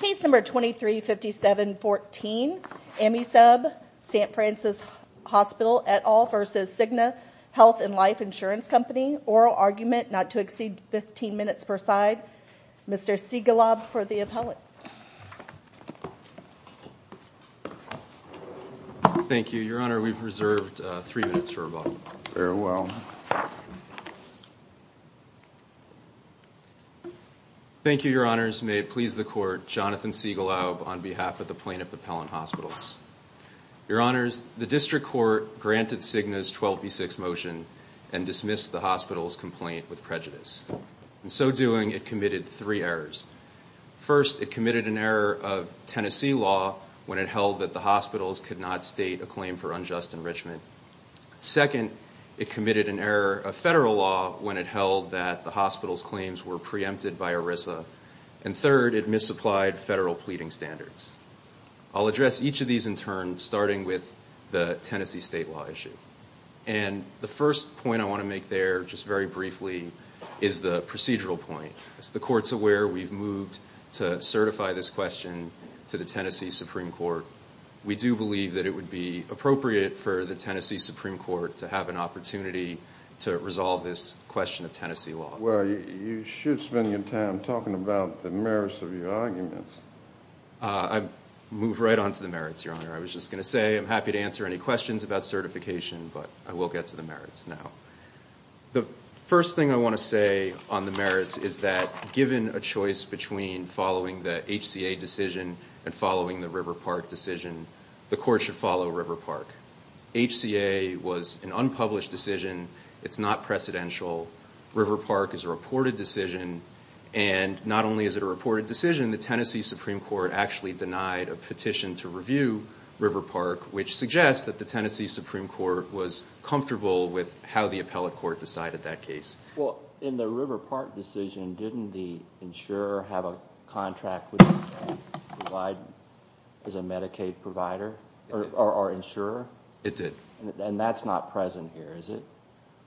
P. 2357-14 AMISUB SFH INC v. Cigna Health and Life Insurance Co ORAL ARGUMENT NOT TO EXCEED 15 MINUTES PER SIDE Mr. Siegelob for the appellate Thank you, Your Honor. We've reserved three minutes for rebuttal. Very well. Thank you, Your Honors. May it please the Court, Jonathan Siegelob on behalf of the Plaintiff Appellant Hospitals. Your Honors, the District Court granted Cigna's 12B6 motion and dismissed the hospital's complaint with prejudice. In so doing, it committed three errors. First, it committed an error of Tennessee law when it held that the hospitals could not state a claim for unjust enrichment. Second, it committed an error of federal law when it held that the hospital's claims were preempted by ERISA. And third, it misapplied federal pleading standards. I'll address each of these in turn, starting with the Tennessee state law issue. And the first point I want to make there, just very briefly, is the procedural point. As the Court's aware, we've moved to certify this question to the Tennessee Supreme Court. We do believe that it would be appropriate for the Tennessee Supreme Court to have an opportunity to resolve this question of Tennessee law. Well, you should spend your time talking about the merits of your arguments. I'll move right on to the merits, Your Honor. I was just going to say I'm happy to answer any questions about certification, but I will get to the merits now. The first thing I want to say on the merits is that given a choice between following the HCA decision and following the River Park decision, the Court should follow River Park. HCA was an unpublished decision. It's not precedential. River Park is a reported decision. And not only is it a reported decision, the Tennessee Supreme Court actually denied a petition to review River Park, which suggests that the Tennessee Supreme Court was comfortable with how the appellate court decided that case. Well, in the River Park decision, didn't the insurer have a contract with provide as a Medicaid provider or insurer? It did. And that's not present here, is it?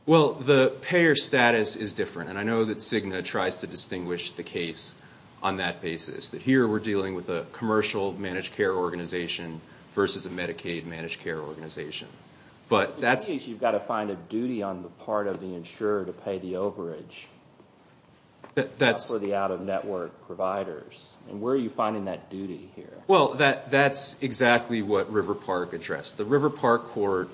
Well, the payer status is different, and I know that Cigna tries to distinguish the case on that basis. Here we're dealing with a commercial managed care organization versus a Medicaid managed care organization. In that case, you've got to find a duty on the part of the insurer to pay the overage for the out-of-network providers. And where are you finding that duty here? Well, that's exactly what River Park addressed. The River Park court,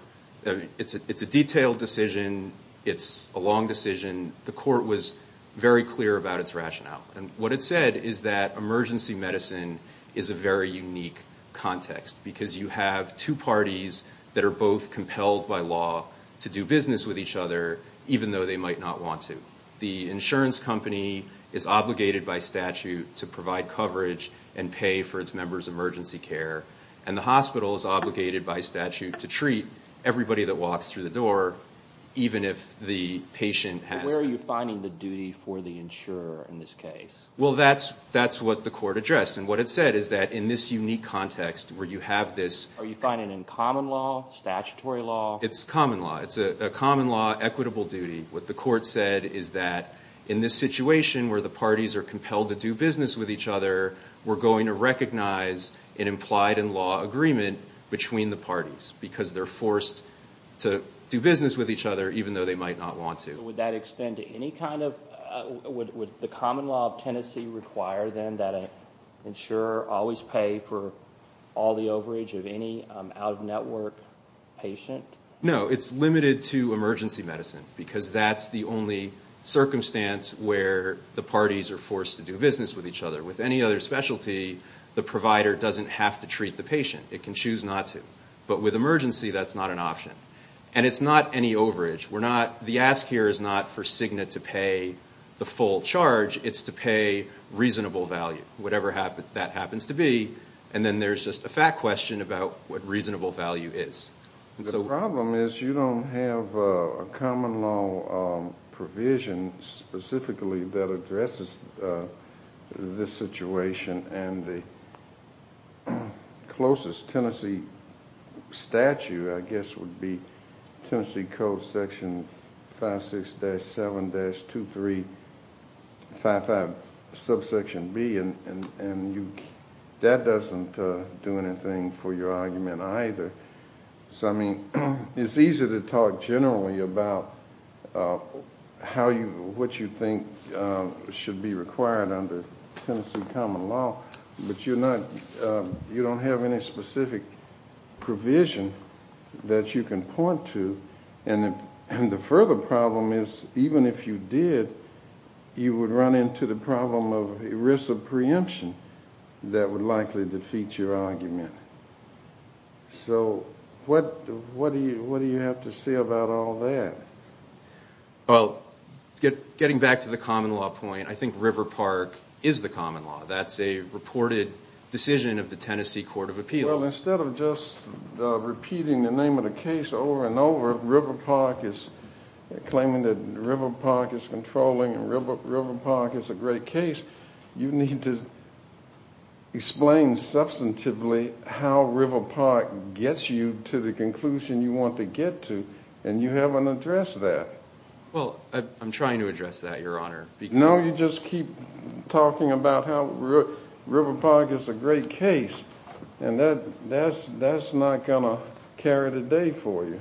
it's a detailed decision. It's a long decision. The court was very clear about its rationale. And what it said is that emergency medicine is a very unique context, because you have two parties that are both compelled by law to do business with each other, even though they might not want to. The insurance company is obligated by statute to provide coverage and pay for its members' emergency care, and the hospital is obligated by statute to treat everybody that walks through the door, even if the patient has it. Where are you finding the duty for the insurer in this case? Well, that's what the court addressed. And what it said is that in this unique context where you have this— Are you finding it common law, statutory law? It's common law. It's a common law, equitable duty. What the court said is that in this situation where the parties are compelled to do business with each other, we're going to recognize an implied-in-law agreement between the parties, because they're forced to do business with each other, even though they might not want to. Would that extend to any kind of—would the common law of Tennessee require, then, that an insurer always pay for all the overage of any out-of-network patient? No, it's limited to emergency medicine, because that's the only circumstance where the parties are forced to do business with each other. With any other specialty, the provider doesn't have to treat the patient. It can choose not to. But with emergency, that's not an option. And it's not any overage. We're not—the ask here is not for Cigna to pay the full charge. It's to pay reasonable value, whatever that happens to be. And then there's just a fact question about what reasonable value is. The problem is you don't have a common law provision specifically that addresses this situation. And the closest Tennessee statute, I guess, would be Tennessee Code, Section 56-7-2355, subsection B. And that doesn't do anything for your argument, either. So, I mean, it's easy to talk generally about how you—what you think should be required under Tennessee common law. But you're not—you don't have any specific provision that you can point to. And the further problem is even if you did, you would run into the problem of risk of preemption that would likely defeat your argument. So what do you have to say about all that? Well, getting back to the common law point, I think River Park is the common law. That's a reported decision of the Tennessee Court of Appeals. Well, instead of just repeating the name of the case over and over, River Park is claiming that River Park is controlling and River Park is a great case, you need to explain substantively how River Park gets you to the conclusion you want to get to. And you haven't addressed that. Well, I'm trying to address that, Your Honor. No, you just keep talking about how River Park is a great case. And that's not going to carry the day for you.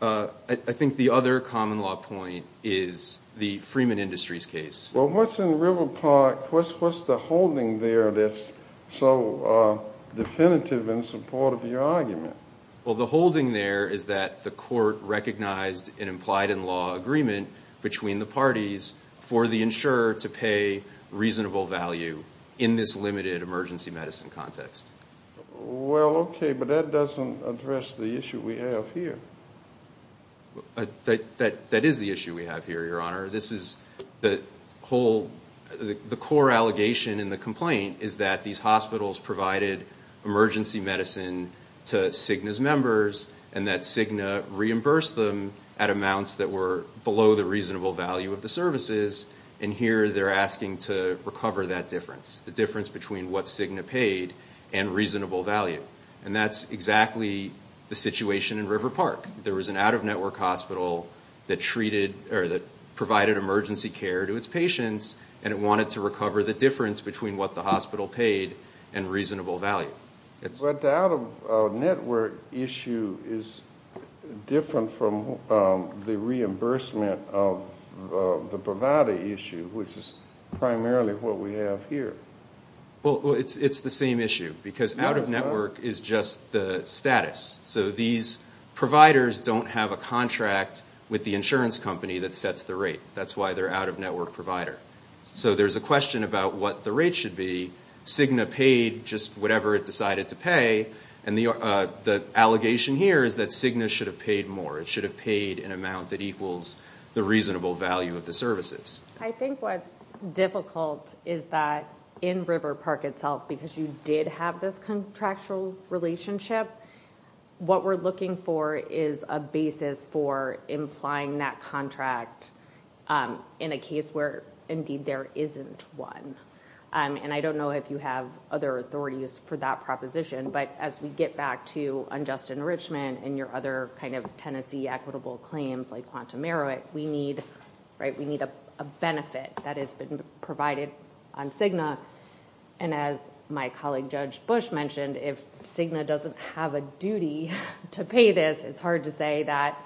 I think the other common law point is the Freeman Industries case. Well, what's in River Park? What's the holding there that's so definitive in support of your argument? Well, the holding there is that the court recognized an implied-in-law agreement between the parties for the insurer to pay reasonable value in this limited emergency medicine context. Well, okay, but that doesn't address the issue we have here. That is the issue we have here, Your Honor. The core allegation in the complaint is that these hospitals provided emergency medicine to Cigna's members and that Cigna reimbursed them at amounts that were below the reasonable value of the services, and here they're asking to recover that difference, the difference between what Cigna paid and reasonable value. And that's exactly the situation in River Park. There was an out-of-network hospital that provided emergency care to its patients and it wanted to recover the difference between what the hospital paid and reasonable value. But the out-of-network issue is different from the reimbursement of the bravado issue, which is primarily what we have here. Well, it's the same issue because out-of-network is just the status. So these providers don't have a contract with the insurance company that sets the rate. That's why they're out-of-network provider. So there's a question about what the rate should be. Cigna paid just whatever it decided to pay, and the allegation here is that Cigna should have paid more. It should have paid an amount that equals the reasonable value of the services. I think what's difficult is that in River Park itself, because you did have this contractual relationship, what we're looking for is a basis for implying that contract in a case where, indeed, there isn't one. And I don't know if you have other authorities for that proposition, but as we get back to unjust enrichment and your other kind of tenancy equitable claims like Quantum Meroit, we need a benefit that has been provided on Cigna. And as my colleague Judge Bush mentioned, if Cigna doesn't have a duty to pay this, it's hard to say that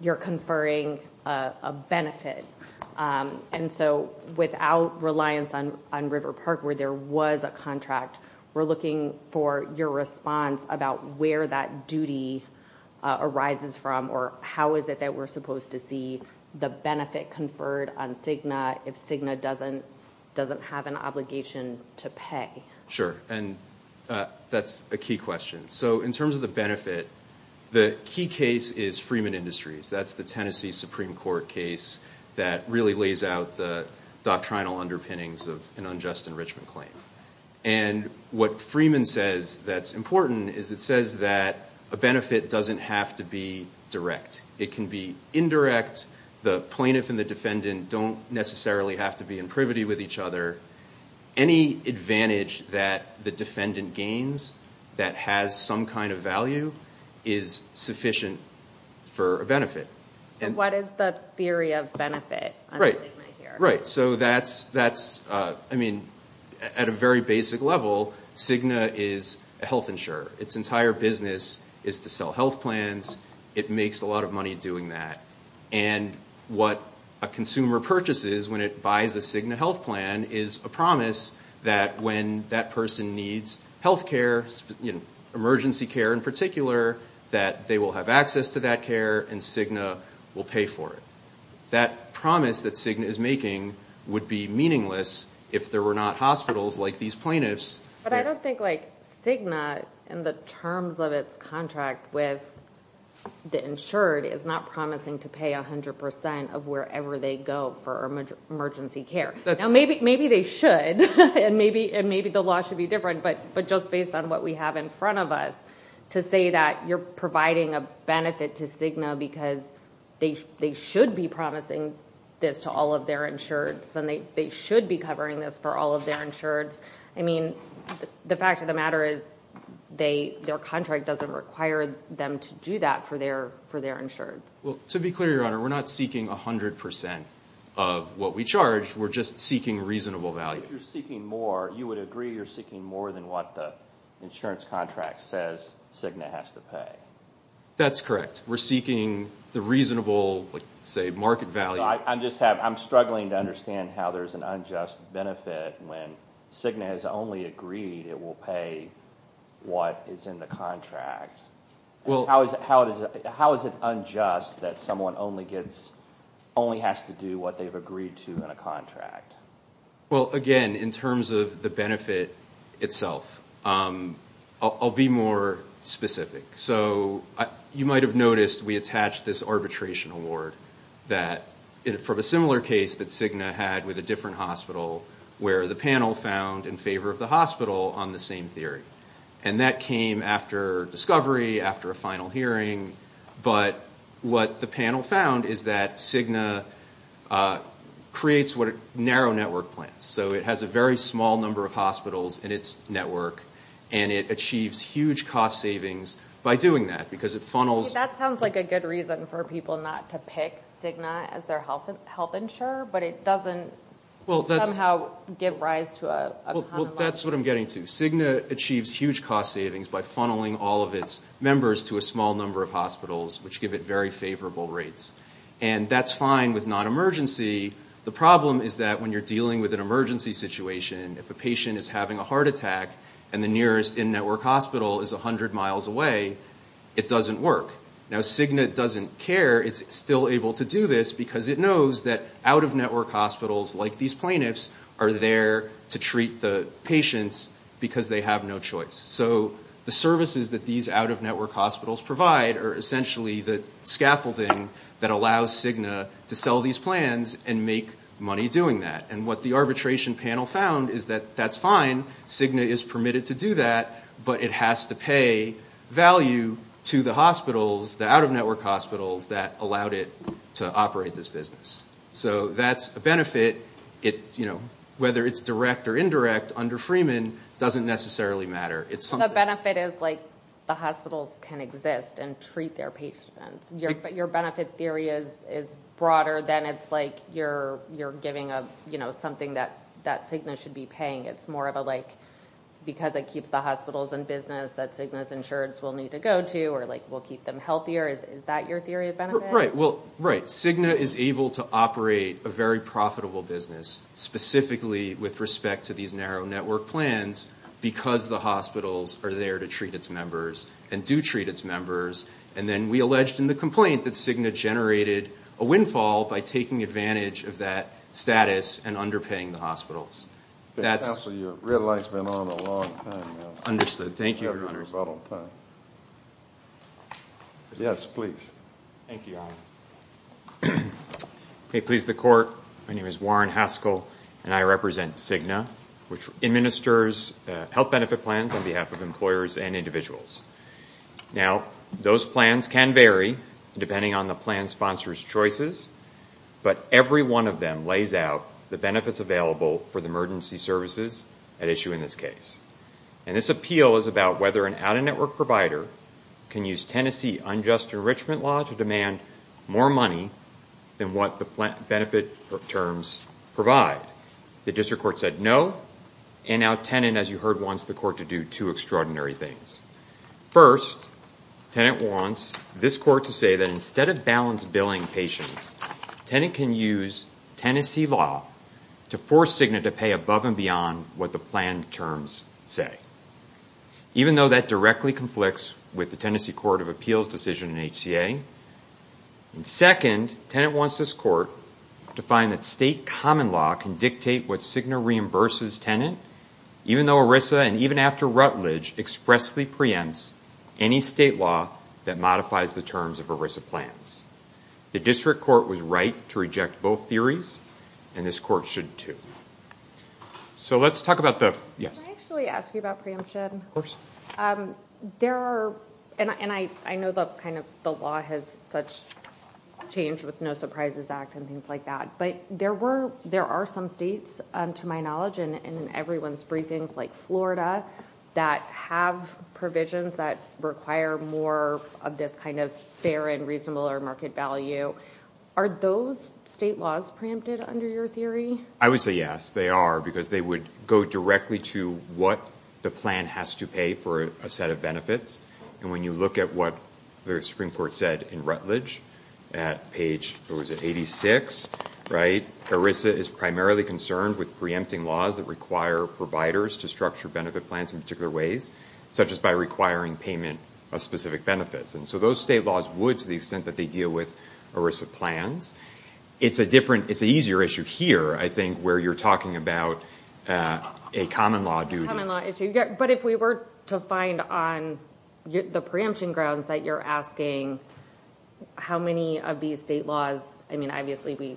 you're conferring a benefit. And so without reliance on River Park where there was a contract, we're looking for your response about where that duty arises from or how is it that we're supposed to see the benefit conferred on Cigna if Cigna doesn't have an obligation to pay. Sure, and that's a key question. So in terms of the benefit, the key case is Freeman Industries. That's the Tennessee Supreme Court case that really lays out the doctrinal underpinnings of an unjust enrichment claim. And what Freeman says that's important is it says that a benefit doesn't have to be direct. It can be indirect. The plaintiff and the defendant don't necessarily have to be in privity with each other. Any advantage that the defendant gains that has some kind of value is sufficient for a benefit. And what is the theory of benefit on Cigna here? Right, so that's, I mean, at a very basic level, Cigna is a health insurer. Its entire business is to sell health plans. It makes a lot of money doing that. And what a consumer purchases when it buys a Cigna health plan is a promise that when that person needs health care, emergency care in particular, that they will have access to that care and Cigna will pay for it. That promise that Cigna is making would be meaningless if there were not hospitals like these plaintiffs. But I don't think, like, Cigna, in the terms of its contract with the insured, is not promising to pay 100 percent of wherever they go for emergency care. Now, maybe they should, and maybe the law should be different, but just based on what we have in front of us, to say that you're providing a benefit to Cigna because they should be promising this to all of their insureds and they should be covering this for all of their insureds. I mean, the fact of the matter is their contract doesn't require them to do that for their insureds. Well, to be clear, Your Honor, we're not seeking 100 percent of what we charge. We're just seeking reasonable value. So if you're seeking more, you would agree you're seeking more than what the insurance contract says Cigna has to pay? That's correct. We're seeking the reasonable, say, market value. I'm struggling to understand how there's an unjust benefit when Cigna has only agreed it will pay what is in the contract. How is it unjust that someone only has to do what they've agreed to in a contract? Well, again, in terms of the benefit itself, I'll be more specific. So you might have noticed we attached this arbitration award from a similar case that Cigna had with a different hospital, where the panel found in favor of the hospital on the same theory. And that came after discovery, after a final hearing. But what the panel found is that Cigna creates what are narrow network plans. So it has a very small number of hospitals in its network, and it achieves huge cost savings by doing that because it funnels. That sounds like a good reason for people not to pick Cigna as their health insurer, but it doesn't somehow give rise to a- Well, that's what I'm getting to. Cigna achieves huge cost savings by funneling all of its members to a small number of hospitals, which give it very favorable rates. And that's fine with non-emergency. The problem is that when you're dealing with an emergency situation, if a patient is having a heart attack and the nearest in-network hospital is 100 miles away, it doesn't work. Now, Cigna doesn't care. It's still able to do this because it knows that out-of-network hospitals like these plaintiffs are there to treat the patients because they have no choice. So the services that these out-of-network hospitals provide are essentially the scaffolding that allows Cigna to sell these plans and make money doing that. And what the arbitration panel found is that that's fine. Cigna is permitted to do that, but it has to pay value to the hospitals, the out-of-network hospitals that allowed it to operate this business. So that's a benefit. Whether it's direct or indirect under Freeman doesn't necessarily matter. The benefit is the hospitals can exist and treat their patients. But your benefit theory is broader than it's like you're giving something that Cigna should be paying. It's more of a, like, because it keeps the hospitals in business that Cigna's insureds will need to go to or, like, will keep them healthier. Is that your theory of benefit? Well, right. Cigna is able to operate a very profitable business, specifically with respect to these narrow-network plans, because the hospitals are there to treat its members and do treat its members. And then we alleged in the complaint that Cigna generated a windfall by taking advantage of that status and underpaying the hospitals. Counsel, your red light's been on a long time now. Understood. Thank you, Your Honors. Yes, please. Thank you, Your Honor. May it please the Court, my name is Warren Haskell, and I represent Cigna, which administers health benefit plans on behalf of employers and individuals. Now, those plans can vary depending on the plan sponsor's choices, but every one of them lays out the benefits available for the emergency services at issue in this case. And this appeal is about whether an out-of-network provider can use Tennessee unjust enrichment law to demand more money than what the benefit terms provide. The district court said no, and now Tennent, as you heard once, the court to do two extraordinary things. First, Tennent wants this court to say that instead of balanced billing patients, Tennent can use Tennessee law to force Cigna to pay above and beyond what the plan terms say, even though that directly conflicts with the Tennessee Court of Appeals decision in HCA. Second, Tennent wants this court to find that state common law can dictate what Cigna reimburses Tennent, even though ERISA and even after Rutledge expressly preempts any state law that modifies the terms of ERISA plans. The district court was right to reject both theories, and this court should too. So let's talk about the... Can I actually ask you about preemption? Of course. There are... And I know that kind of the law has such changed with No Surprises Act and things like that, but there were... There are some states, to my knowledge, and in everyone's briefings, like Florida, that have provisions that require more of this kind of fair and reasonable market value. Are those state laws preempted under your theory? I would say yes, they are, because they would go directly to what the plan has to pay for a set of benefits. And when you look at what the Supreme Court said in Rutledge at page, what was it, 86, right? ERISA is primarily concerned with preempting laws that require providers to structure benefit plans in particular ways, such as by requiring payment of specific benefits. And so those state laws would, to the extent that they deal with ERISA plans. It's a different... It's an easier issue here, I think, where you're talking about a common law duty. Common law issue. But if we were to find on the preemption grounds that you're asking how many of these state laws... I mean, obviously,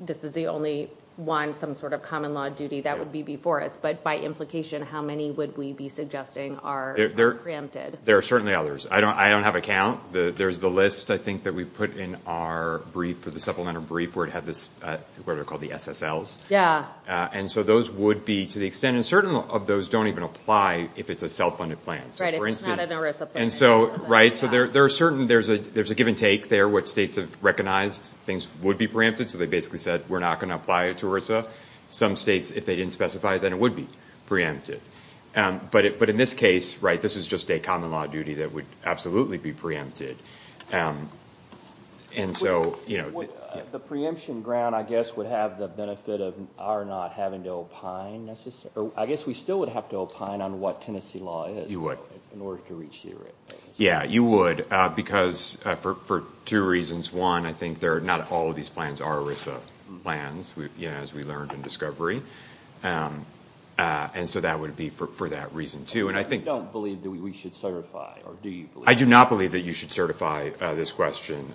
this is the only one, some sort of common law duty that would be before us. But by implication, how many would we be suggesting are preempted? There are certainly others. I don't have a count. There's the list, I think, that we put in our supplementary brief where it had this, what are called the SSLs. And so those would be, to the extent... And certain of those don't even apply if it's a self-funded plan. So, for instance... Right, if it's not an ERISA plan. Right. So there are certain... There's a give and take there, what states have recognized things would be preempted. So they basically said, we're not going to apply it to ERISA. Some states, if they didn't specify it, then it would be preempted. But in this case, right, this is just a common law duty that would absolutely be preempted. And so... The preemption ground, I guess, would have the benefit of our not having to opine necessarily. I guess we still would have to opine on what Tennessee law is. You would. In order to reach the right things. Yeah, you would. Because for two reasons. One, I think not all of these plans are ERISA plans, as we learned in discovery. And so that would be for that reason, too. And I think... You don't believe that we should certify, or do you believe that? I do not believe that you should certify this question.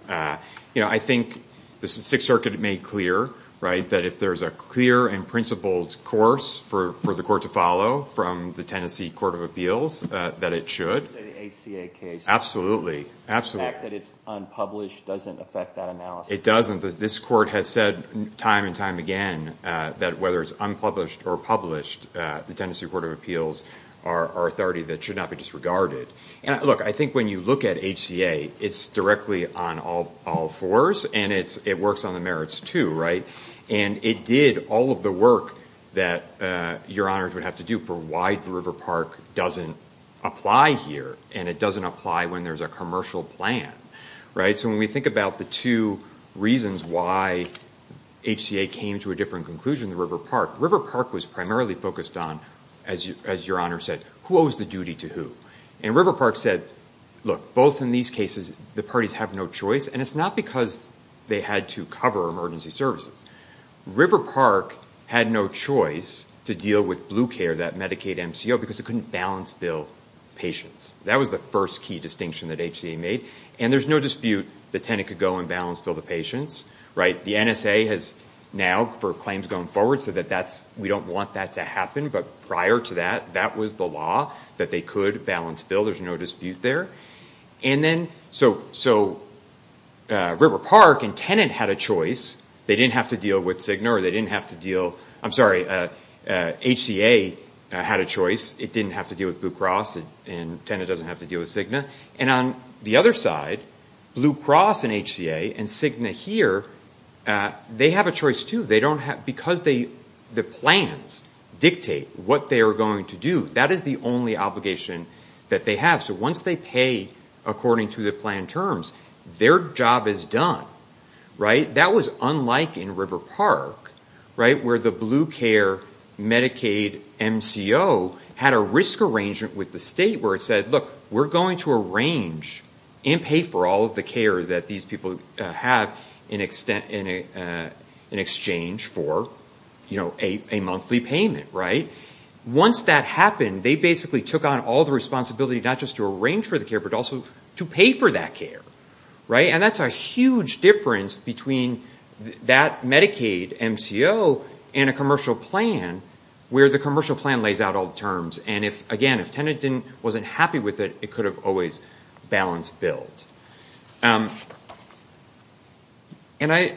You know, I think the Sixth Circuit made clear, right, that if there's a clear and principled course for the court to follow from the Tennessee Court of Appeals, that it should. The ACA case. Absolutely. Absolutely. The fact that it's unpublished doesn't affect that analysis. It doesn't. This court has said time and time again that whether it's unpublished or published, the Tennessee Court of Appeals are authority that should not be disregarded. Look, I think when you look at HCA, it's directly on all fours, and it works on the merits, too, right? And it did all of the work that your honors would have to do for why River Park doesn't apply here. And it doesn't apply when there's a commercial plan, right? So when we think about the two reasons why HCA came to a different conclusion than River Park, River Park was primarily focused on, as your honors said, who owes the duty to who? And River Park said, look, both in these cases the parties have no choice, and it's not because they had to cover emergency services. River Park had no choice to deal with BlueCare, that Medicaid MCO, because it couldn't balance bill patients. That was the first key distinction that HCA made. And there's no dispute that Tenet could go and balance bill the patients, right? The NSA has now, for claims going forward, said that we don't want that to happen. But prior to that, that was the law, that they could balance bill. There's no dispute there. And then so River Park and Tenet had a choice. They didn't have to deal with Cigna, or they didn't have to deal – I'm sorry, HCA had a choice. It didn't have to deal with Blue Cross, and Tenet doesn't have to deal with Cigna. And on the other side, Blue Cross and HCA and Cigna here, they have a choice, too. Because the plans dictate what they are going to do, that is the only obligation that they have. So once they pay according to the planned terms, their job is done, right? That was unlike in River Park, right, where the BlueCare Medicaid MCO had a risk arrangement with the state where it said, look, we're going to arrange and pay for all of the care that these people have in exchange for a monthly payment, right? Once that happened, they basically took on all the responsibility not just to arrange for the care but also to pay for that care, right? And that's a huge difference between that Medicaid MCO and a commercial plan where the commercial plan lays out all the terms. And again, if Tenet wasn't happy with it, it could have always balanced bills. And I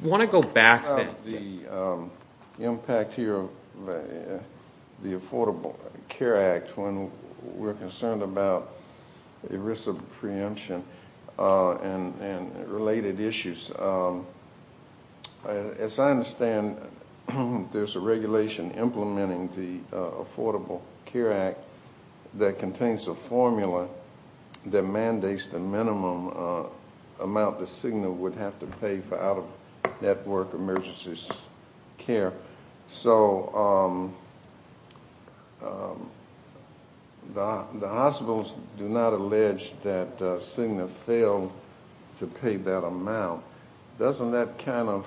want to go back to the impact here of the Affordable Care Act when we're concerned about risk of preemption and related issues. As I understand, there's a regulation implementing the Affordable Care Act that contains a formula that mandates the minimum amount that Cigna would have to pay for out-of-network emergency care. So the hospitals do not allege that Cigna failed to pay that amount. Doesn't that kind of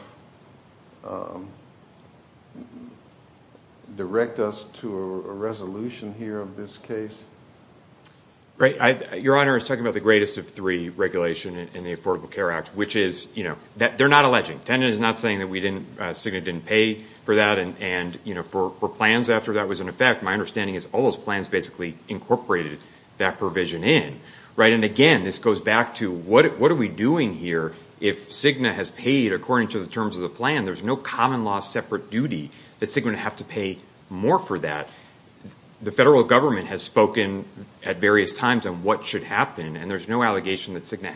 direct us to a resolution here of this case? Your Honor is talking about the greatest of three regulation in the Affordable Care Act, which is, you know, they're not alleging. Tenet is not saying that Cigna didn't pay for that. And for plans after that was in effect, my understanding is all those plans basically incorporated that provision in, right? And again, this goes back to what are we doing here if Cigna has paid according to the terms of the plan? There's no common law separate duty that Cigna would have to pay more for that. The federal government has spoken at various times on what should happen. And there's no allegation that Cigna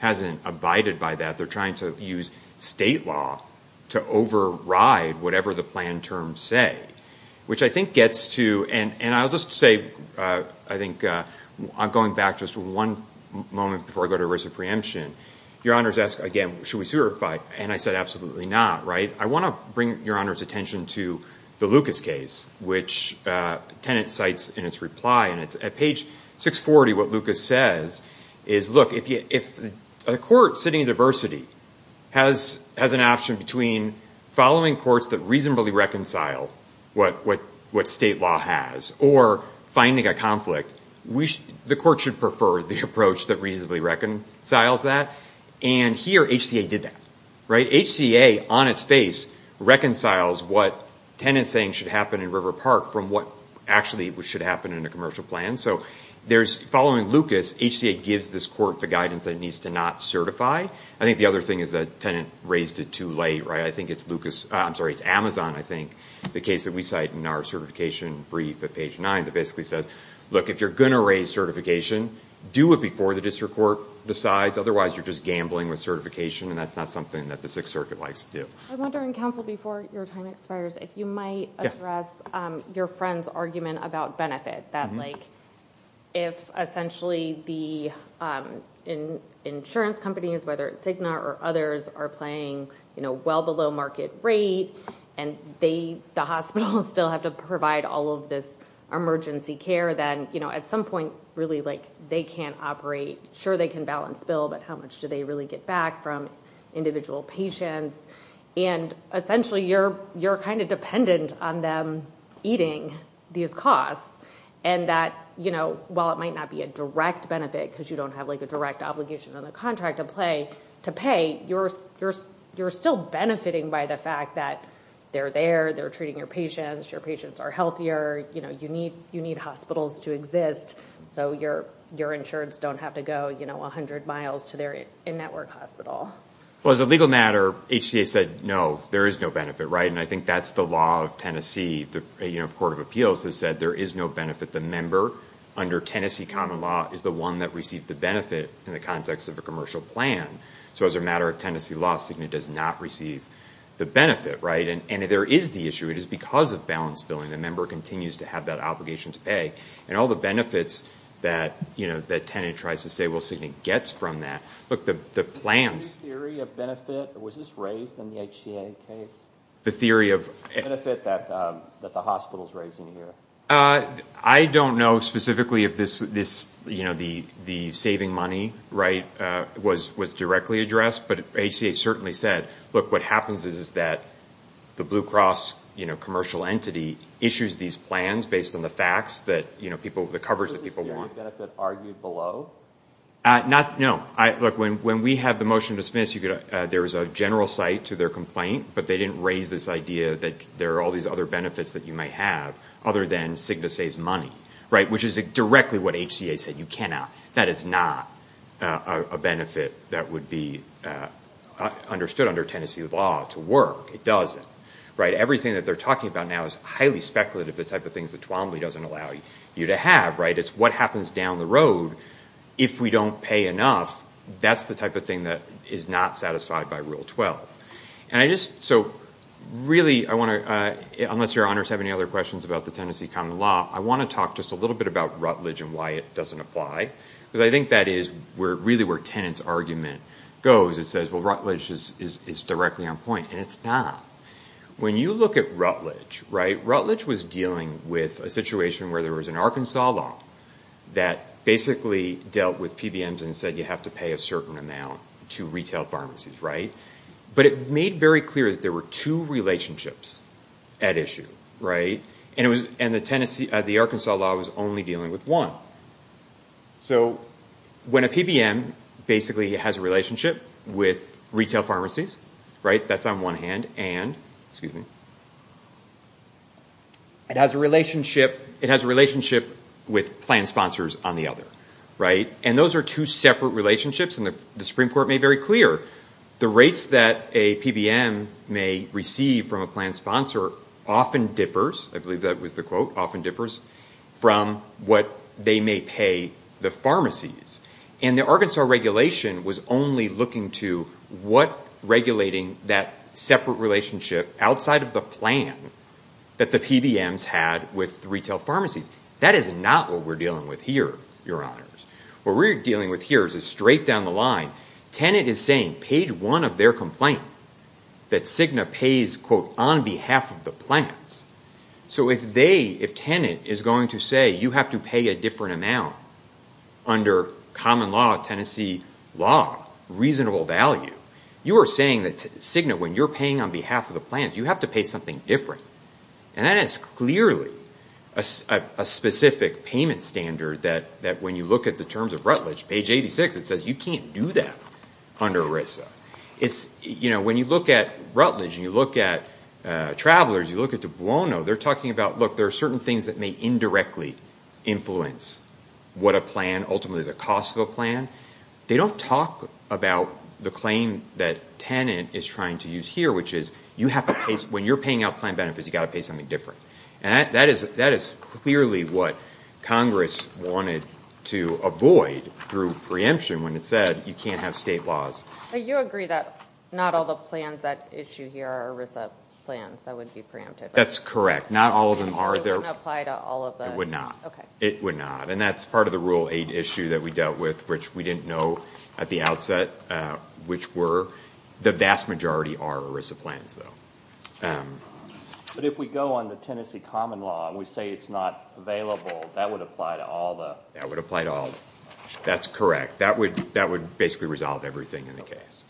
hasn't abided by that. They're trying to use state law to override whatever the plan terms say, which I think gets to, and I'll just say, I think, I'm going back just one moment before I go to risk of preemption. Your Honor's asked again, should we certify? And I said absolutely not, right? I want to bring Your Honor's attention to the Lucas case, which Tenet cites in its reply. And at page 640, what Lucas says is, look, if a court sitting in diversity has an option between following courts that reasonably reconcile what state law has or finding a conflict, the court should prefer the approach that reasonably reconciles that. And here, HCA did that, right? It's what Tenet's saying should happen in River Park from what actually should happen in a commercial plan. So there's, following Lucas, HCA gives this court the guidance that it needs to not certify. I think the other thing is that Tenet raised it too late, right? I think it's Lucas, I'm sorry, it's Amazon, I think, the case that we cite in our certification brief at page 9 that basically says, look, if you're going to raise certification, do it before the district court decides. Otherwise, you're just gambling with certification, and that's not something that the Sixth Circuit likes to do. I'm wondering, counsel, before your time expires, if you might address your friend's argument about benefit, that if essentially the insurance companies, whether it's Cigna or others, are playing well below market rate, and the hospitals still have to provide all of this emergency care, then at some point, really, they can't operate. Sure, they can balance bill, but how much do they really get back from individual patients? And essentially, you're kind of dependent on them eating these costs, and that while it might not be a direct benefit because you don't have a direct obligation on the contract to pay, you're still benefiting by the fact that they're there, they're treating your patients, your patients are healthier, you need hospitals to exist so your insurance don't have to go 100 miles to their in-network hospital. Well, as a legal matter, HCA said, no, there is no benefit, right? And I think that's the law of Tennessee. The Court of Appeals has said there is no benefit. The member under Tennessee common law is the one that received the benefit in the context of a commercial plan. So as a matter of Tennessee law, Cigna does not receive the benefit, right? And there is the issue. It is because of balanced billing. The member continues to have that obligation to pay. And all the benefits that Tennant tries to say, well, Cigna gets from that. Look, the plans. The theory of benefit, was this raised in the HCA case? The theory of? The benefit that the hospital is raising here. I don't know specifically if this, you know, the saving money, right, was directly addressed, but HCA certainly said, look, what happens is that the Blue Cross, you know, commercial entity issues these plans based on the facts that, you know, the coverage that people want. Was this theory of benefit argued below? Not, no. Look, when we had the motion to dismiss, there was a general cite to their complaint, but they didn't raise this idea that there are all these other benefits that you might have, other than Cigna saves money, right, which is directly what HCA said, you cannot. That is not a benefit that would be understood under Tennessee law to work. It doesn't. Right, everything that they're talking about now is highly speculative, the type of things that Twombly doesn't allow you to have, right. It's what happens down the road if we don't pay enough. That's the type of thing that is not satisfied by Rule 12. And I just, so really I want to, unless your honors have any other questions about the Tennessee common law, I want to talk just a little bit about Rutledge and why it doesn't apply, because I think that is really where Tennant's argument goes. It says, well, Rutledge is directly on point, and it's not. When you look at Rutledge, right, Rutledge was dealing with a situation where there was an Arkansas law that basically dealt with PBMs and said you have to pay a certain amount to retail pharmacies, right. But it made very clear that there were two relationships at issue, right. And the Arkansas law was only dealing with one. So when a PBM basically has a relationship with retail pharmacies, right, that's on one hand, and it has a relationship with plan sponsors on the other, right. And those are two separate relationships, and the Supreme Court made very clear the rates that a PBM may receive from a plan sponsor often differs, I believe that was the quote, often differs from what they may pay the pharmacies. And the Arkansas regulation was only looking to what regulating that separate relationship outside of the plan that the PBMs had with retail pharmacies. That is not what we're dealing with here, your honors. What we're dealing with here is straight down the line. Tenet is saying, page one of their complaint, that Cigna pays, quote, on behalf of the plans. So if Tenet is going to say you have to pay a different amount under common law, Tennessee law, reasonable value, you are saying that Cigna, when you're paying on behalf of the plans, you have to pay something different. And that is clearly a specific payment standard that when you look at the terms of Rutledge, page 86, it says you can't do that under ERISA. When you look at Rutledge and you look at Travelers, you look at Dubuono, they're talking about, look, there are certain things that may indirectly influence what a plan, ultimately the cost of a plan. They don't talk about the claim that Tenet is trying to use here, which is when you're paying out plan benefits, you've got to pay something different. And that is clearly what Congress wanted to avoid through preemption when it said you can't have state laws. You agree that not all the plans at issue here are ERISA plans that would be preempted. That's correct. Not all of them are. It wouldn't apply to all of them. It would not. It would not. And that's part of the rule eight issue that we dealt with, which we didn't know at the outset which were the vast majority are ERISA plans, though. But if we go on the Tennessee common law and we say it's not available, that would apply to all of them. That would apply to all of them. That's correct. That would basically resolve everything in the case.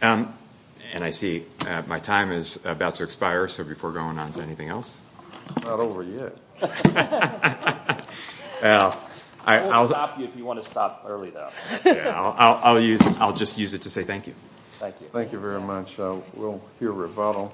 And I see my time is about to expire, so before going on, is there anything else? It's not over yet. We'll stop you if you want to stop early, though. I'll just use it to say thank you. Thank you. Thank you very much. We'll hear rebuttal.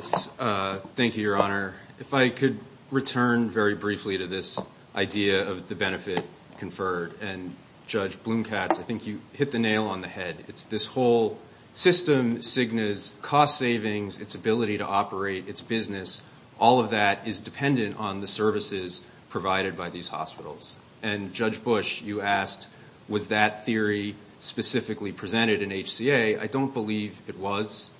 Thank you, Your Honor. If I could return very briefly to this idea of the benefit conferred. And, Judge Blumkatz, I think you hit the nail on the head. It's this whole system, Cigna's cost savings, its ability to operate, its business, all of that is dependent on the services provided by these hospitals. And, Judge Bush, you asked, was that theory specifically presented in HCA? I don't believe it was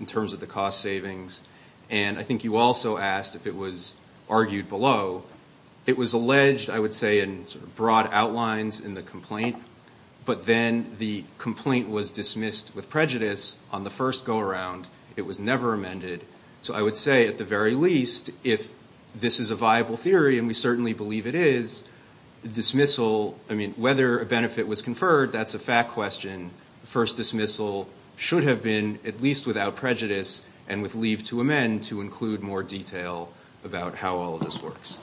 in terms of the cost savings. And I think you also asked if it was argued below. It was alleged, I would say, in broad outlines in the complaint, but then the complaint was dismissed with prejudice on the first go-around. It was never amended. So I would say, at the very least, if this is a viable theory, and we certainly believe it is, dismissal, I mean, whether a benefit was conferred, that's a fact question. The first dismissal should have been at least without prejudice and with leave to amend to include more detail about how all of this works.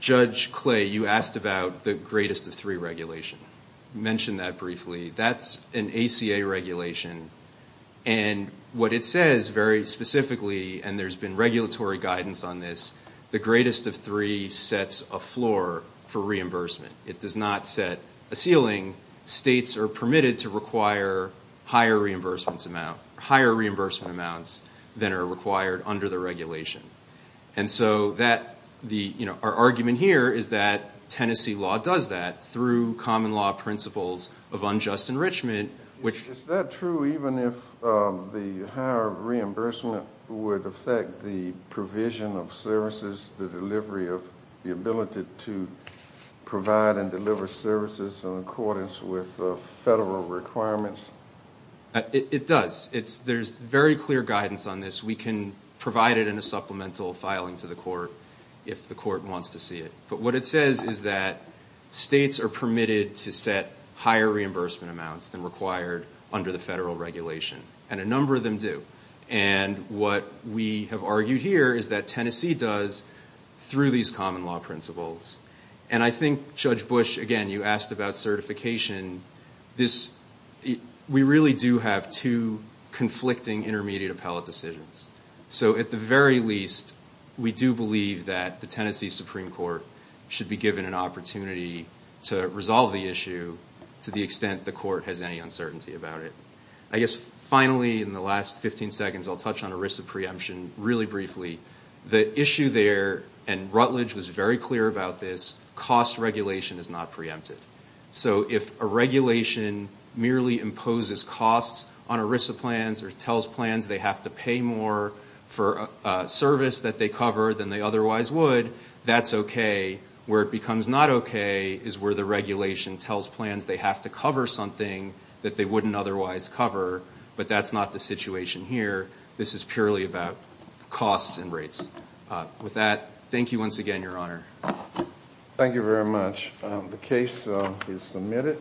Judge Clay, you asked about the greatest of three regulation. You mentioned that briefly. That's an ACA regulation. And what it says very specifically, and there's been regulatory guidance on this, the greatest of three sets a floor for reimbursement. It does not set a ceiling. States are permitted to require higher reimbursement amounts than are required under the regulation. And so our argument here is that Tennessee law does that through common law principles of unjust enrichment. Is that true even if the higher reimbursement would affect the provision of services, the delivery of the ability to provide and deliver services in accordance with federal requirements? It does. There's very clear guidance on this. We can provide it in a supplemental filing to the court if the court wants to see it. But what it says is that states are permitted to set higher reimbursement amounts than required under the federal regulation. And a number of them do. And what we have argued here is that Tennessee does through these common law principles. And I think, Judge Bush, again, you asked about certification. We really do have two conflicting intermediate appellate decisions. So at the very least, we do believe that the Tennessee Supreme Court should be given an opportunity to resolve the issue to the extent the court has any uncertainty about it. I guess finally, in the last 15 seconds, I'll touch on ERISA preemption really briefly. The issue there, and Rutledge was very clear about this, cost regulation is not preempted. So if a regulation merely imposes costs on ERISA plans or tells plans they have to pay more for a service that they cover than they otherwise would, that's okay. Where it becomes not okay is where the regulation tells plans they have to cover something that they wouldn't otherwise cover. But that's not the situation here. This is purely about costs and rates. With that, thank you once again, Your Honor. Thank you very much. The case is submitted.